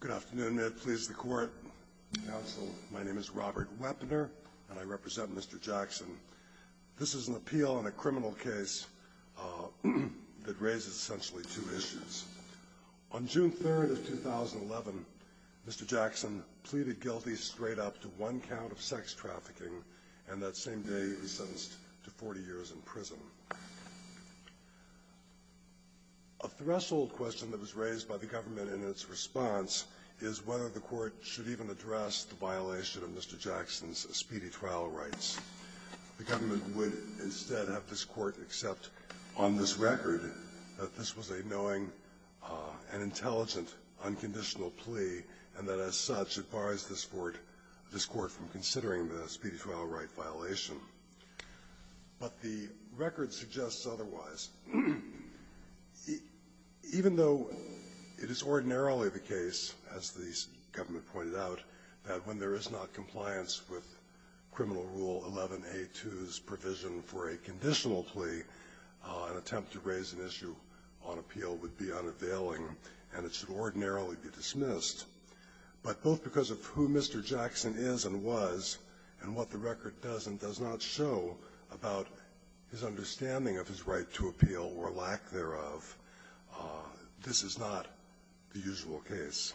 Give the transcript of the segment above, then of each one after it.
Good afternoon. May it please the court, counsel. My name is Robert Wepner, and I represent Mr. Jackson. This is an appeal on a criminal case that raises essentially two issues. On June 3rd of 2011, Mr. Jackson pleaded guilty straight up to one count of sex trafficking, and that same day he was sentenced to 40 years in prison. A threshold question that was raised by the government in its response is whether the court should even address the violation of Mr. Jackson's speedy trial rights. The government would instead have this court accept on this record that this was a knowing and intelligent, unconditional plea, and that as such it bars this court from considering the speedy trial right violation. But the record suggests otherwise. Even though it is ordinarily the case, as the government pointed out, that when there is not compliance with Criminal Rule 11A2's provision for a conditional plea, an attempt to raise an issue on appeal would be unavailing, and it should ordinarily be dismissed. But both because of who Mr. Jackson is and was and what the record does and does not show about his understanding of his right to appeal or lack thereof, this is not the usual case. Ginsburg.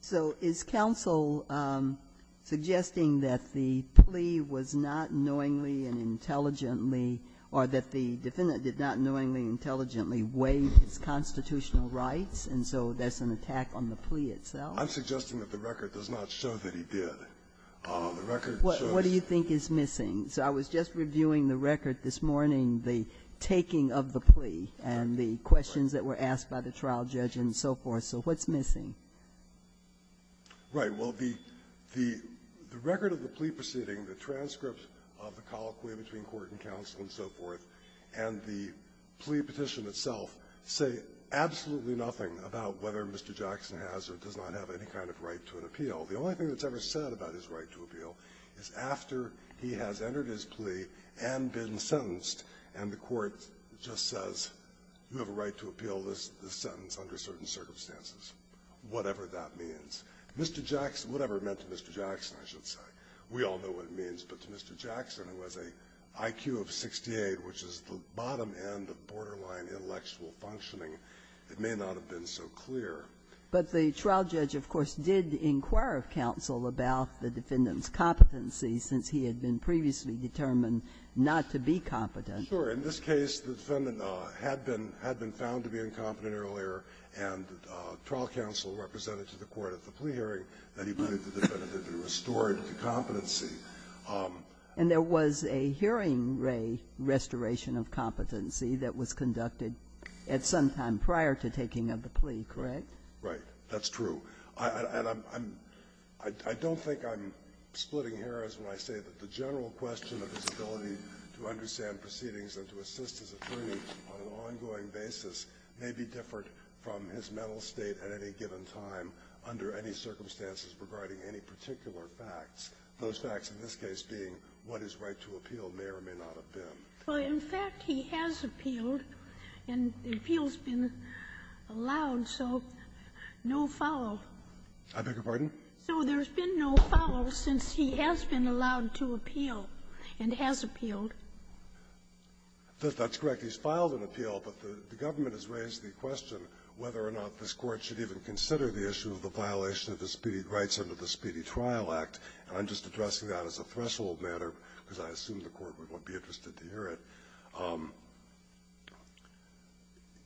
So is counsel suggesting that the plea was not knowingly and intelligently or that the defendant did not knowingly and intelligently waive his constitutional rights, and so that's an attack on the plea itself? I'm suggesting that the record does not show that he did. The record shows that. What do you think is missing? So I was just reviewing the record this morning, the taking of the plea and the questions that were asked by the trial judge and so forth. So what's missing? Right. Well, the record of the plea proceeding, the transcripts of the colloquy between the court and counsel and so forth, and the plea petition itself say absolutely nothing about whether Mr. Jackson has or does not have any kind of right to an appeal. The only thing that's ever said about his right to appeal is after he has entered his plea and been sentenced, and the court just says, you have a right to appeal this sentence under certain circumstances, whatever that means. Mr. Jackson – whatever it meant to Mr. Jackson, I should say. We all know what it means. But to Mr. Jackson, who has an IQ of 68, which is the bottom end of borderline intellectual functioning, it may not have been so clear. But the trial judge, of course, did inquire of counsel about the defendant's competency, since he had been previously determined not to be competent. Sure. In this case, the defendant had been found to be incompetent earlier, and trial judge counsel represented to the court at the plea hearing that he believed the defendant had been restored to competency. And there was a hearing-ray restoration of competency that was conducted at some time prior to taking up the plea, correct? Right. That's true. And I'm – I don't think I'm splitting errors when I say that the general question of his ability to understand proceedings and to assist his attorney on an ongoing basis may be different from his mental state at any given time under any circumstances regarding any particular facts, those facts in this case being what his right to appeal may or may not have been. Well, in fact, he has appealed, and the appeal's been allowed, so no foul. I beg your pardon? So there's been no foul since he has been allowed to appeal and has appealed. That's correct. He's filed an appeal, but the government has raised the question whether or not this Court should even consider the issue of the violation of his speedy rights under the Speedy Trial Act, and I'm just addressing that as a threshold matter because I assume the Court would want to be interested to hear it.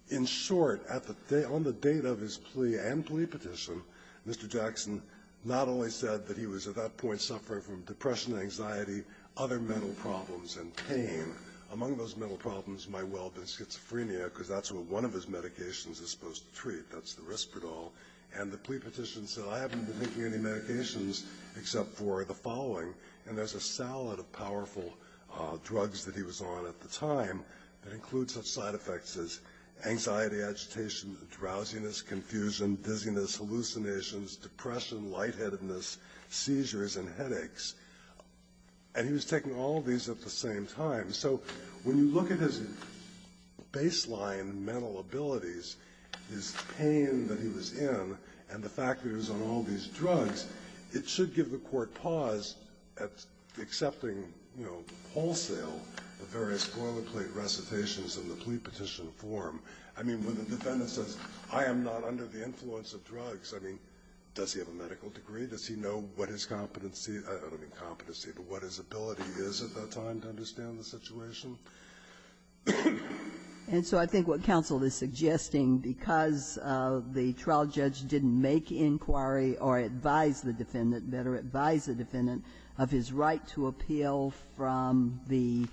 In short, on the date of his plea and plea petition, Mr. Jackson not only said that he was at that point suffering from depression and anxiety, other mental problems and pain. Among those mental problems might well have been schizophrenia because that's what one of his medications is supposed to treat. That's the Risperdal. And the plea petition said, I haven't been taking any medications except for the following, and there's a salad of powerful drugs that he was on at the time that include such side effects as anxiety, agitation, drowsiness, confusion, dizziness, hallucinations, depression, lightheadedness, seizures, and headaches. And he was taking all of these at the same time. So when you look at his baseline mental abilities, his pain that he was in, and the fact that he was on all these drugs, it should give the Court pause at accepting, you know, wholesale the various boilerplate recitations in the plea petition form. I mean, when the defendant says, I am not under the influence of drugs, I mean, does he have a medical degree? Does he know what his competency, I don't mean competency, but what his ability is at that time to understand the situation? And so I think what counsel is suggesting, because the trial judge didn't make inquiry or advise the defendant, better advise the defendant of his right to appeal from the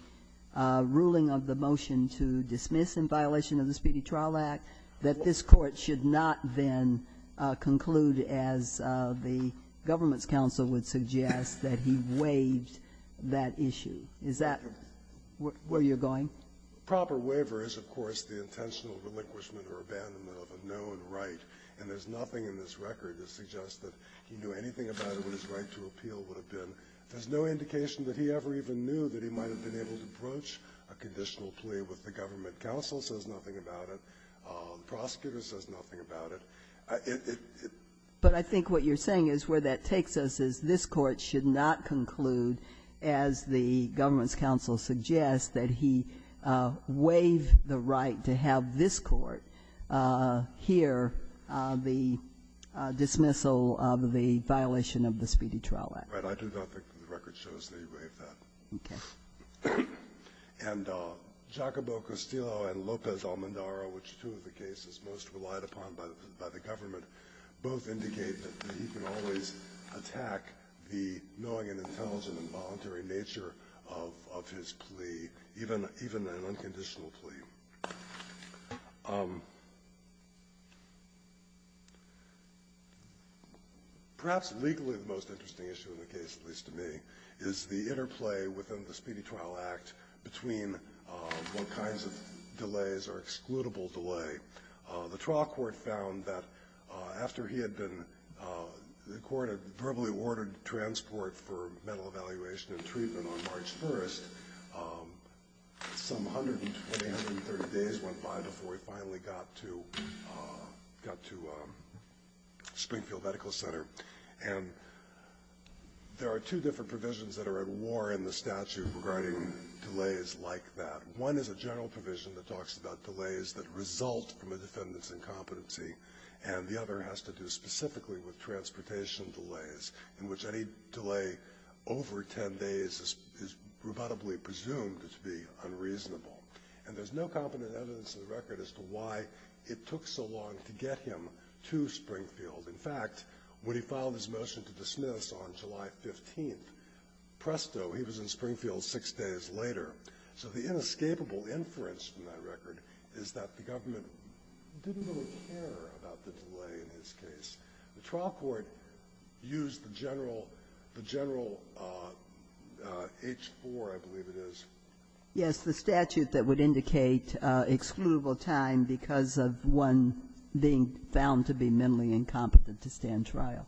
ruling of the motion to dismiss in violation of the Speedy Trial Act, that this Court should not then conclude, as the government's counsel would suggest, that he waived that issue. Is that where you're going? Proper waiver is, of course, the intentional relinquishment or abandonment of a known right. And there's nothing in this record that suggests that he knew anything about what his right to appeal would have been. There's no indication that he ever even knew that he might have been able to approach a conditional plea with the government counsel. It says nothing about it. The prosecutor says nothing about it. It, it, it. But I think what you're saying is where that takes us is this Court should not conclude, as the government's counsel suggests, that he waived the right to have this Court hear the dismissal of the violation of the Speedy Trial Act. Right. I do not think the record shows that he waived that. Okay. And Giacobbo Castillo and Lopez Almendara, which are two of the cases most relied upon by the government, both indicate that he can always attack the knowing and intelligent and voluntary nature of, of his plea, even, even an unconditional plea. Perhaps legally the most interesting issue in the case, at least to me, is the interplay within the Speedy Trial Act between what kinds of delays are excludable delay. The trial court found that after he had been, the court had verbally ordered transport for mental evaluation and treatment on March 1st. Some 120, 130 days went by before he finally got to, got to Springfield Medical Center. And there are two different provisions that are at war in the statute regarding delays like that. One is a general provision that talks about delays that result from a defendant's incompetency. And the other has to do specifically with transportation delays, in which any delay over 10 days is, is rebuttably presumed to be unreasonable. And there's no competent evidence in the record as to why it took so long to get him to Springfield. In fact, when he filed his motion to dismiss on July 15th, presto, he was in Springfield six days later. So the inescapable inference from that record is that the government didn't really care about the delay in his case. The trial court used the general, the general H-4, I believe it is. Ginsburg. Yes, the statute that would indicate excludable time because of one being found to be mentally incompetent to stand trial.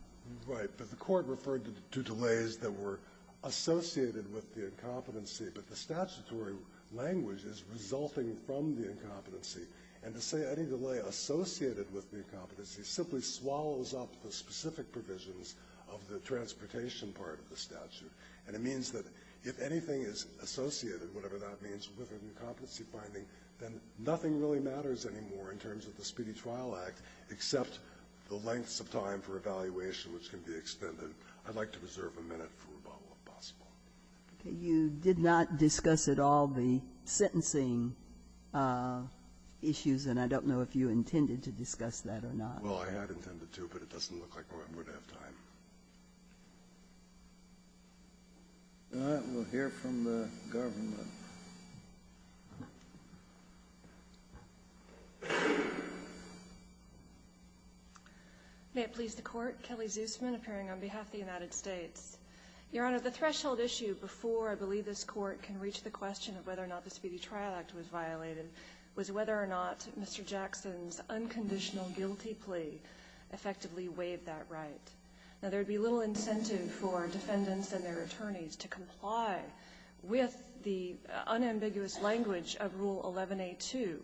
Right. But the court referred to delays that were associated with the incompetency. But the statutory language is resulting from the incompetency. And to say any delay associated with the incompetency simply swallows up the specific provisions of the transportation part of the statute. And it means that if anything is associated, whatever that means, with an incompetency finding, then nothing really matters anymore in terms of the Speedy Trial Act except the lengths of time for evaluation which can be extended. I'd like to reserve a minute for rebuttal, if possible. Okay. You did not discuss at all the sentencing issues, and I don't know if you intended to discuss that or not. Well, I had intended to, but it doesn't look like I would have time. All right. We'll hear from the government. May it please the Court. Kelly Zusman, appearing on behalf of the United States. Your Honor, the threshold issue before I believe this Court can reach the question of whether or not the Speedy Trial Act was violated was whether or not Mr. Jackson's unconditional guilty plea effectively waived that right. Now, there would be little incentive for defendants and their attorneys to comply with the unambiguous language of Rule 11A2,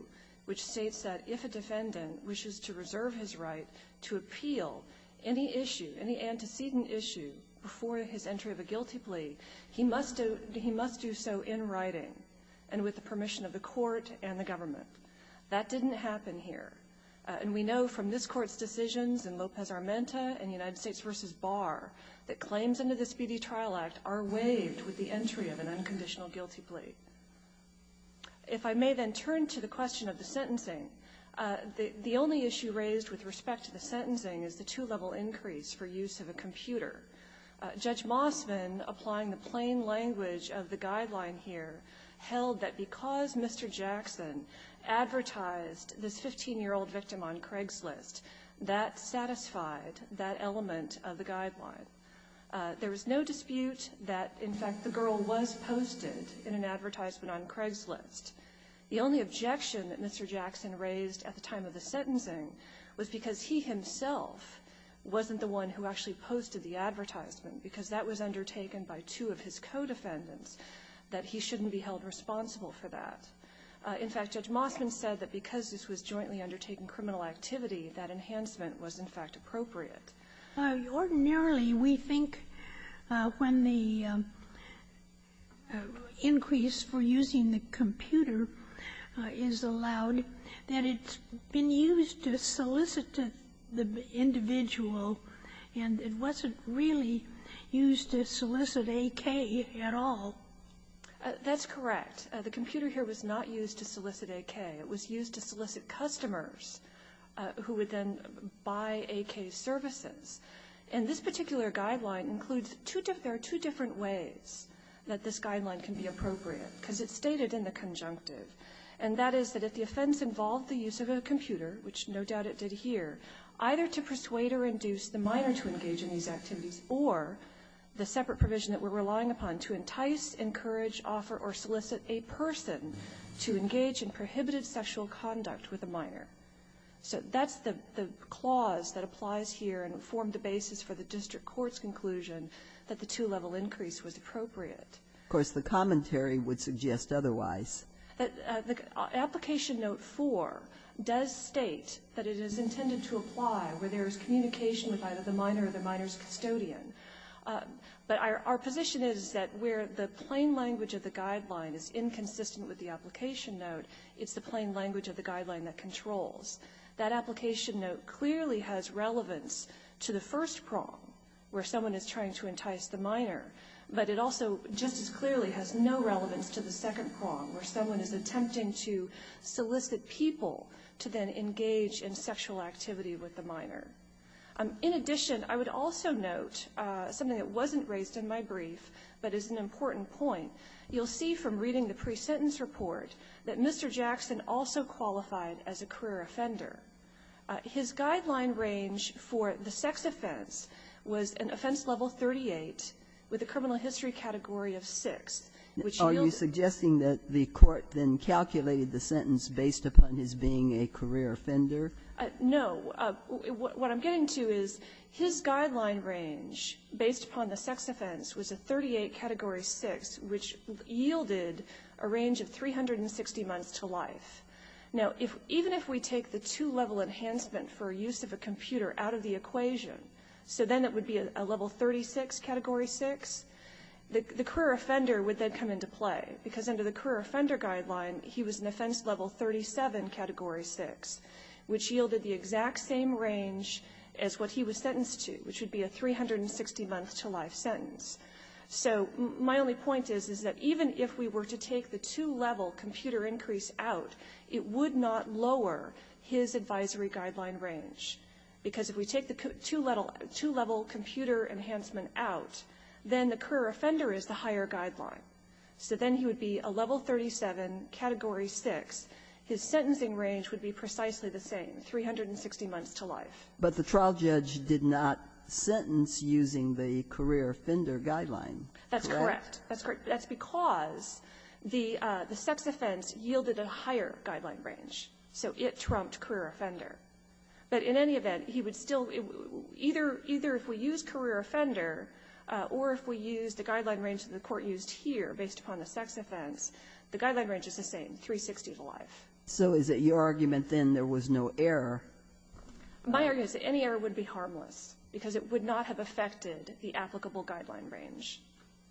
which states that if a defendant wishes to reserve his right to appeal any issue, any antecedent issue, before his entry of a guilty plea, he must do so in writing and with the permission of the Court and the government. That didn't happen here. And we know from this Court's decisions in Lopez-Armenta and United States v. Barr that claims under the Speedy Trial Act are waived with the entry of an unconditional guilty plea. If I may then turn to the question of the sentencing, the only issue raised with respect to the sentencing is the two-level increase for use of a computer. Judge Mosman, applying the plain language of the guideline here, held that because Mr. Jackson advertised this 15-year-old victim on Craigslist, that satisfied that element of the guideline. There was no dispute that, in fact, the girl was posted in an advertisement on Craigslist. The only objection that Mr. Jackson raised at the time of the sentencing was because he himself wasn't the one who actually posted the advertisement, because that was undertaken by two of his co-defendants, that he shouldn't be held responsible for that. In fact, Judge Mosman said that because this was jointly undertaking criminal activity, that enhancement was, in fact, appropriate. Ginsburg. Ordinarily, we think when the increase for using the computer is allowed that it's been used to solicit the individual, and it wasn't really used to solicit AK at all. That's correct. The computer here was not used to solicit AK. It was used to solicit customers who would then buy AK's services. And this particular guideline includes two different ways that this guideline can be appropriate, because it's stated in the conjunctive. And that is that if the offense involved the use of a computer, which no doubt it did here, either to persuade or induce the minor to engage in these activities, or the separate provision that we're relying upon to entice, encourage, offer, or solicit a minor. So that's the clause that applies here and formed the basis for the district court's conclusion that the two-level increase was appropriate. Of course, the commentary would suggest otherwise. The application note 4 does state that it is intended to apply where there is communication with either the minor or the minor's custodian. But our position is that where the plain language of the guideline is inconsistent with the application note, it's the plain language of the guideline that controls. That application note clearly has relevance to the first prong, where someone is trying to entice the minor. But it also just as clearly has no relevance to the second prong, where someone is attempting to solicit people to then engage in sexual activity with the minor. In addition, I would also note something that wasn't raised in my brief, but is an important point. You'll see from reading the pre-sentence report that Mr. Jackson also qualified as a career offender. His guideline range for the sex offense was an offense level 38 with a criminal history category of 6, which yields a 38. Ginsburg. Are you suggesting that the Court then calculated the sentence based upon his being a career offender? No. What I'm getting to is his guideline range based upon the sex offense was a 38 category 6, which yielded a range of 360 months to life. Now, even if we take the two-level enhancement for use of a computer out of the equation, so then it would be a level 36 category 6, the career offender would then come into play, because under the career offender guideline, he was an offense level 37 category 6, which yielded the exact same range as what he was sentenced to, which would be a 360 month to life sentence. So my only point is, is that even if we were to take the two-level computer increase out, it would not lower his advisory guideline range. Because if we take the two-level computer enhancement out, then the career offender is the higher guideline. So then he would be a level 37 category 6. His sentencing range would be precisely the same, 360 months to life. But the trial judge did not sentence using the career offender guideline. That's correct. That's correct. That's because the sex offense yielded a higher guideline range. So it trumped career offender. But in any event, he would still be either if we use career offender or if we use the guideline range that the Court used here based upon the sex offense, the guideline range is the same, 360 to life. So is it your argument then there was no error? My argument is that any error would be harmless because it would not have affected the applicable guideline range.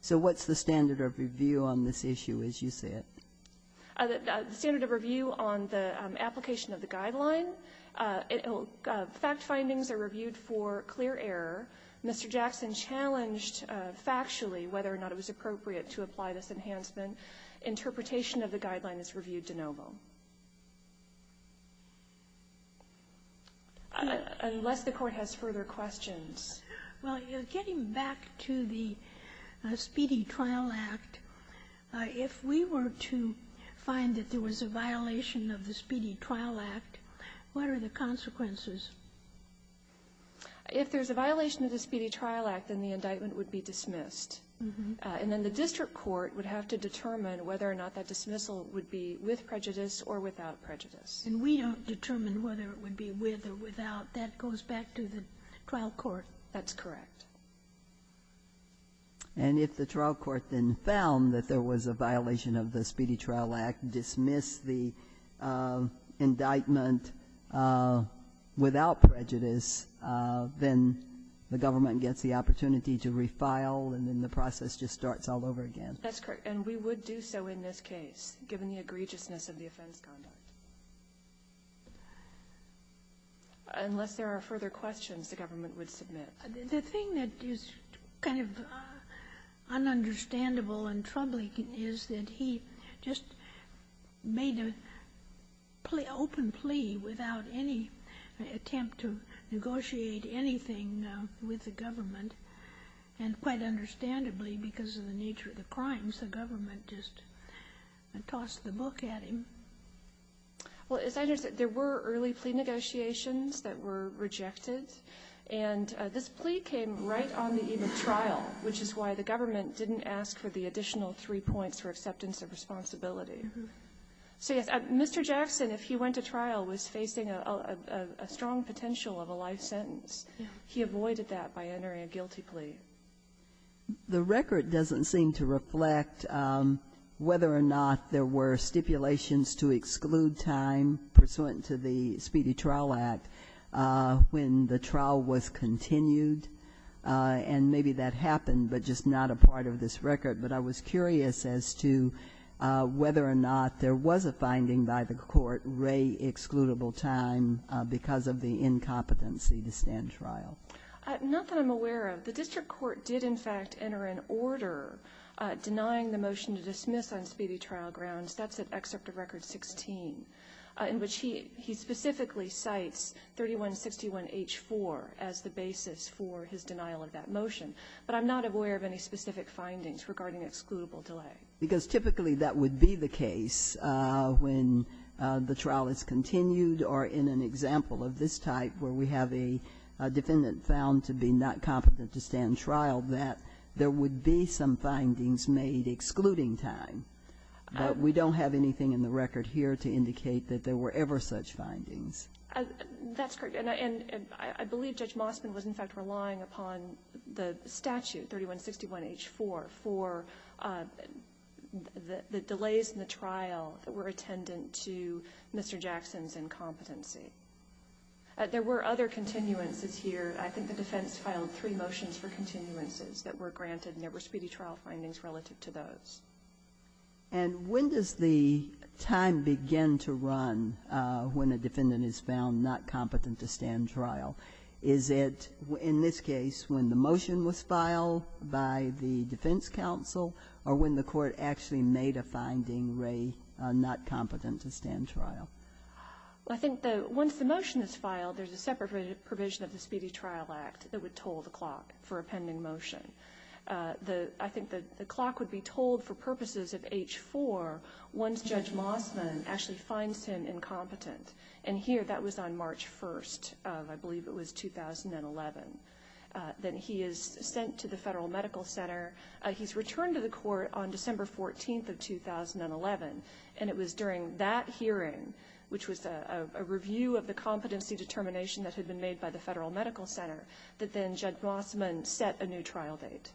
So what's the standard of review on this issue as you see it? The standard of review on the application of the guideline. Fact findings are reviewed for clear error. Mr. Jackson challenged factually whether or not it was appropriate to apply this enhancement. Interpretation of the guideline is reviewed de novo. Unless the Court has further questions. Well, getting back to the Speedy Trial Act, if we were to find that there was a violation of the Speedy Trial Act, what are the consequences? If there's a violation of the Speedy Trial Act, then the indictment would be dismissed. And then the district court would have to determine whether or not that dismissal would be with prejudice or without prejudice. And we don't determine whether it would be with or without. That goes back to the trial court. That's correct. And if the trial court then found that there was a violation of the Speedy Trial Act, dismissed the indictment without prejudice, then the government gets the opportunity to refile, and then the process just starts all over again. That's correct. And we would do so in this case, given the egregiousness of the offense conduct. Unless there are further questions, the government would submit. The thing that is kind of un-understandable and troubling is that he just made an open plea without any attempt to negotiate anything with the government, and quite understandably because of the nature of the crimes, the government just tossed the book at him. Well, as I understand, there were early plea negotiations that were rejected, and this plea came right on the eve of trial, which is why the government didn't ask for the additional three points for acceptance of responsibility. So yes, Mr. Jackson, if he went to trial, was facing a strong potential of a life sentence. He avoided that by entering a guilty plea. The record doesn't seem to reflect whether or not there were stipulations to exclude time pursuant to the Speedy Trial Act when the trial was continued, and maybe that happened, but just not a part of this record. But I was curious as to whether or not there was a finding by the court, ray excludable time, because of the incompetency to stand trial. Not that I'm aware of. The district court did, in fact, enter an order denying the motion to dismiss on speedy trial grounds. That's at Excerpt of Record 16, in which he specifically cites 3161H4 as the basis for his denial of that motion. But I'm not aware of any specific findings regarding excludable delay. Because typically that would be the case when the trial is continued or in an example of this type where we have a defendant found to be not competent to stand trial that there would be some findings made excluding time. But we don't have anything in the record here to indicate that there were ever such findings. That's correct. And I believe Judge Mossman was, in fact, relying upon the statute, 3161H4, for the delays in the trial that were attendant to Mr. Jackson's incompetency. There were other continuances here. I think the defense filed three motions for continuances that were granted, and there were speedy trial findings relative to those. And when does the time begin to run when a defendant is found not competent to stand trial? Is it, in this case, when the motion was filed by the defense counsel or when the court actually made a finding, Ray, not competent to stand trial? I think that once the motion is filed, there's a separate provision of the Speedy Trial Act that would toll the clock for a pending motion. I think the clock would be tolled for purposes of H4 once Judge Mossman actually finds him incompetent. And here, that was on March 1st of, I believe it was, 2011. Then he is sent to the Federal Medical Center. He's returned to the court on December 14th of 2011, and it was during that hearing, which was a review of the competency determination that had been made by the Federal Medical Center, that then Judge Mossman set a new trial date.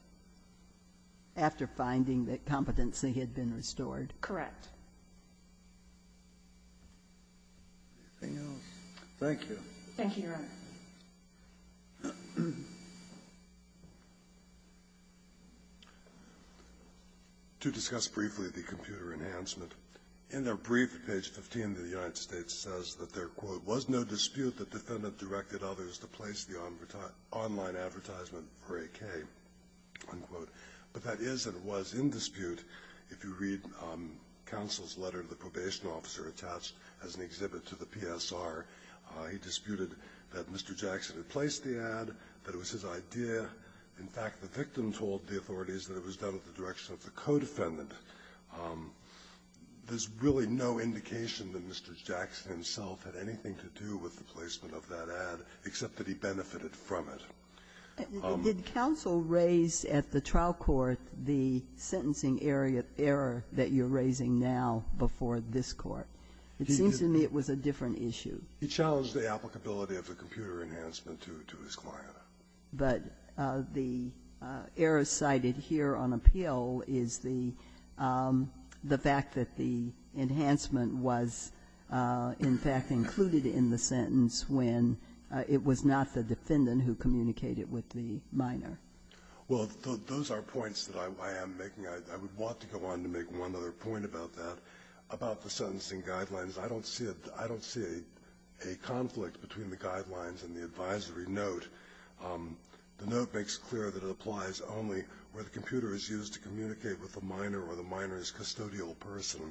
After finding that competency had been restored? Correct. Anything else? Thank you. Thank you, Your Honor. To discuss briefly the computer enhancement. In their brief at page 15, the United States says that there, quote, was no dispute that the defendant directed others to place the online advertisement for AK, unquote. But that is and was in dispute if you read counsel's letter to the probation officer attached as an exhibit to the PSR. He disputed that Mr. Jackson had placed the ad, that it was his idea. In fact, the victim told the authorities that it was done with the direction of the co-defendant. There's really no indication that Mr. Jackson himself had anything to do with the placement of that ad, except that he benefited from it. Did counsel raise at the trial court the sentencing error that you're raising now before this court? It seems to me it was a different issue. He challenged the applicability of the computer enhancement to his client. But the error cited here on appeal is the fact that the enhancement was, in fact, included in the sentence when it was not the defendant who communicated with the minor. Well, those are points that I am making. I would want to go on to make one other point about that, about the sentencing guidelines. I don't see a conflict between the guidelines and the advisory note. The note makes clear that it applies only where the computer is used to communicate with the minor or the minor's custodial person.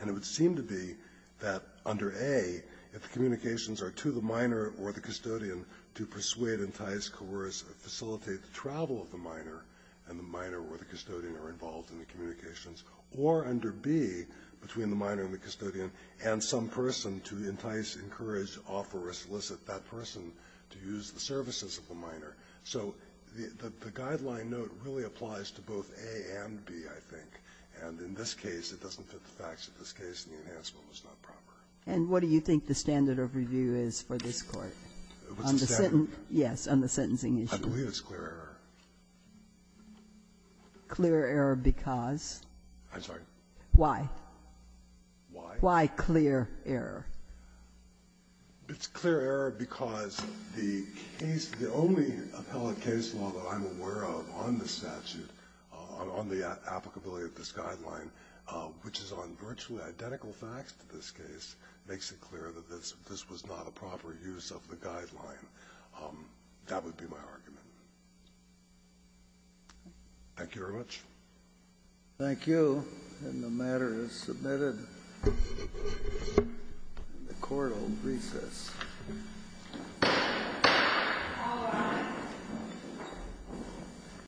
And it would seem to be that under A, if the communications are to the minor or the custodian to persuade, entice, coerce or facilitate the travel of the minor and the minor or the custodian are involved in the communications, or under B, between the minor and the custodian and some person to entice, encourage, offer or solicit that person to use the services of the minor. So the guideline note really applies to both A and B, I think. And in this case, it doesn't fit the facts. In this case, the enhancement was not proper. And what do you think the standard of review is for this Court? What's the standard? Yes, on the sentencing issue. I believe it's clear error. Clear error because? I'm sorry? Why? Why? Why clear error? It's clear error because the case, the only appellate case law that I'm aware of on this statute, on the applicability of this guideline, which is on virtually identical facts to this case, makes it clear that this was not a proper use of the guideline. That would be my argument. Thank you very much. Thank you. And the matter is submitted. The Court will recess. All rise.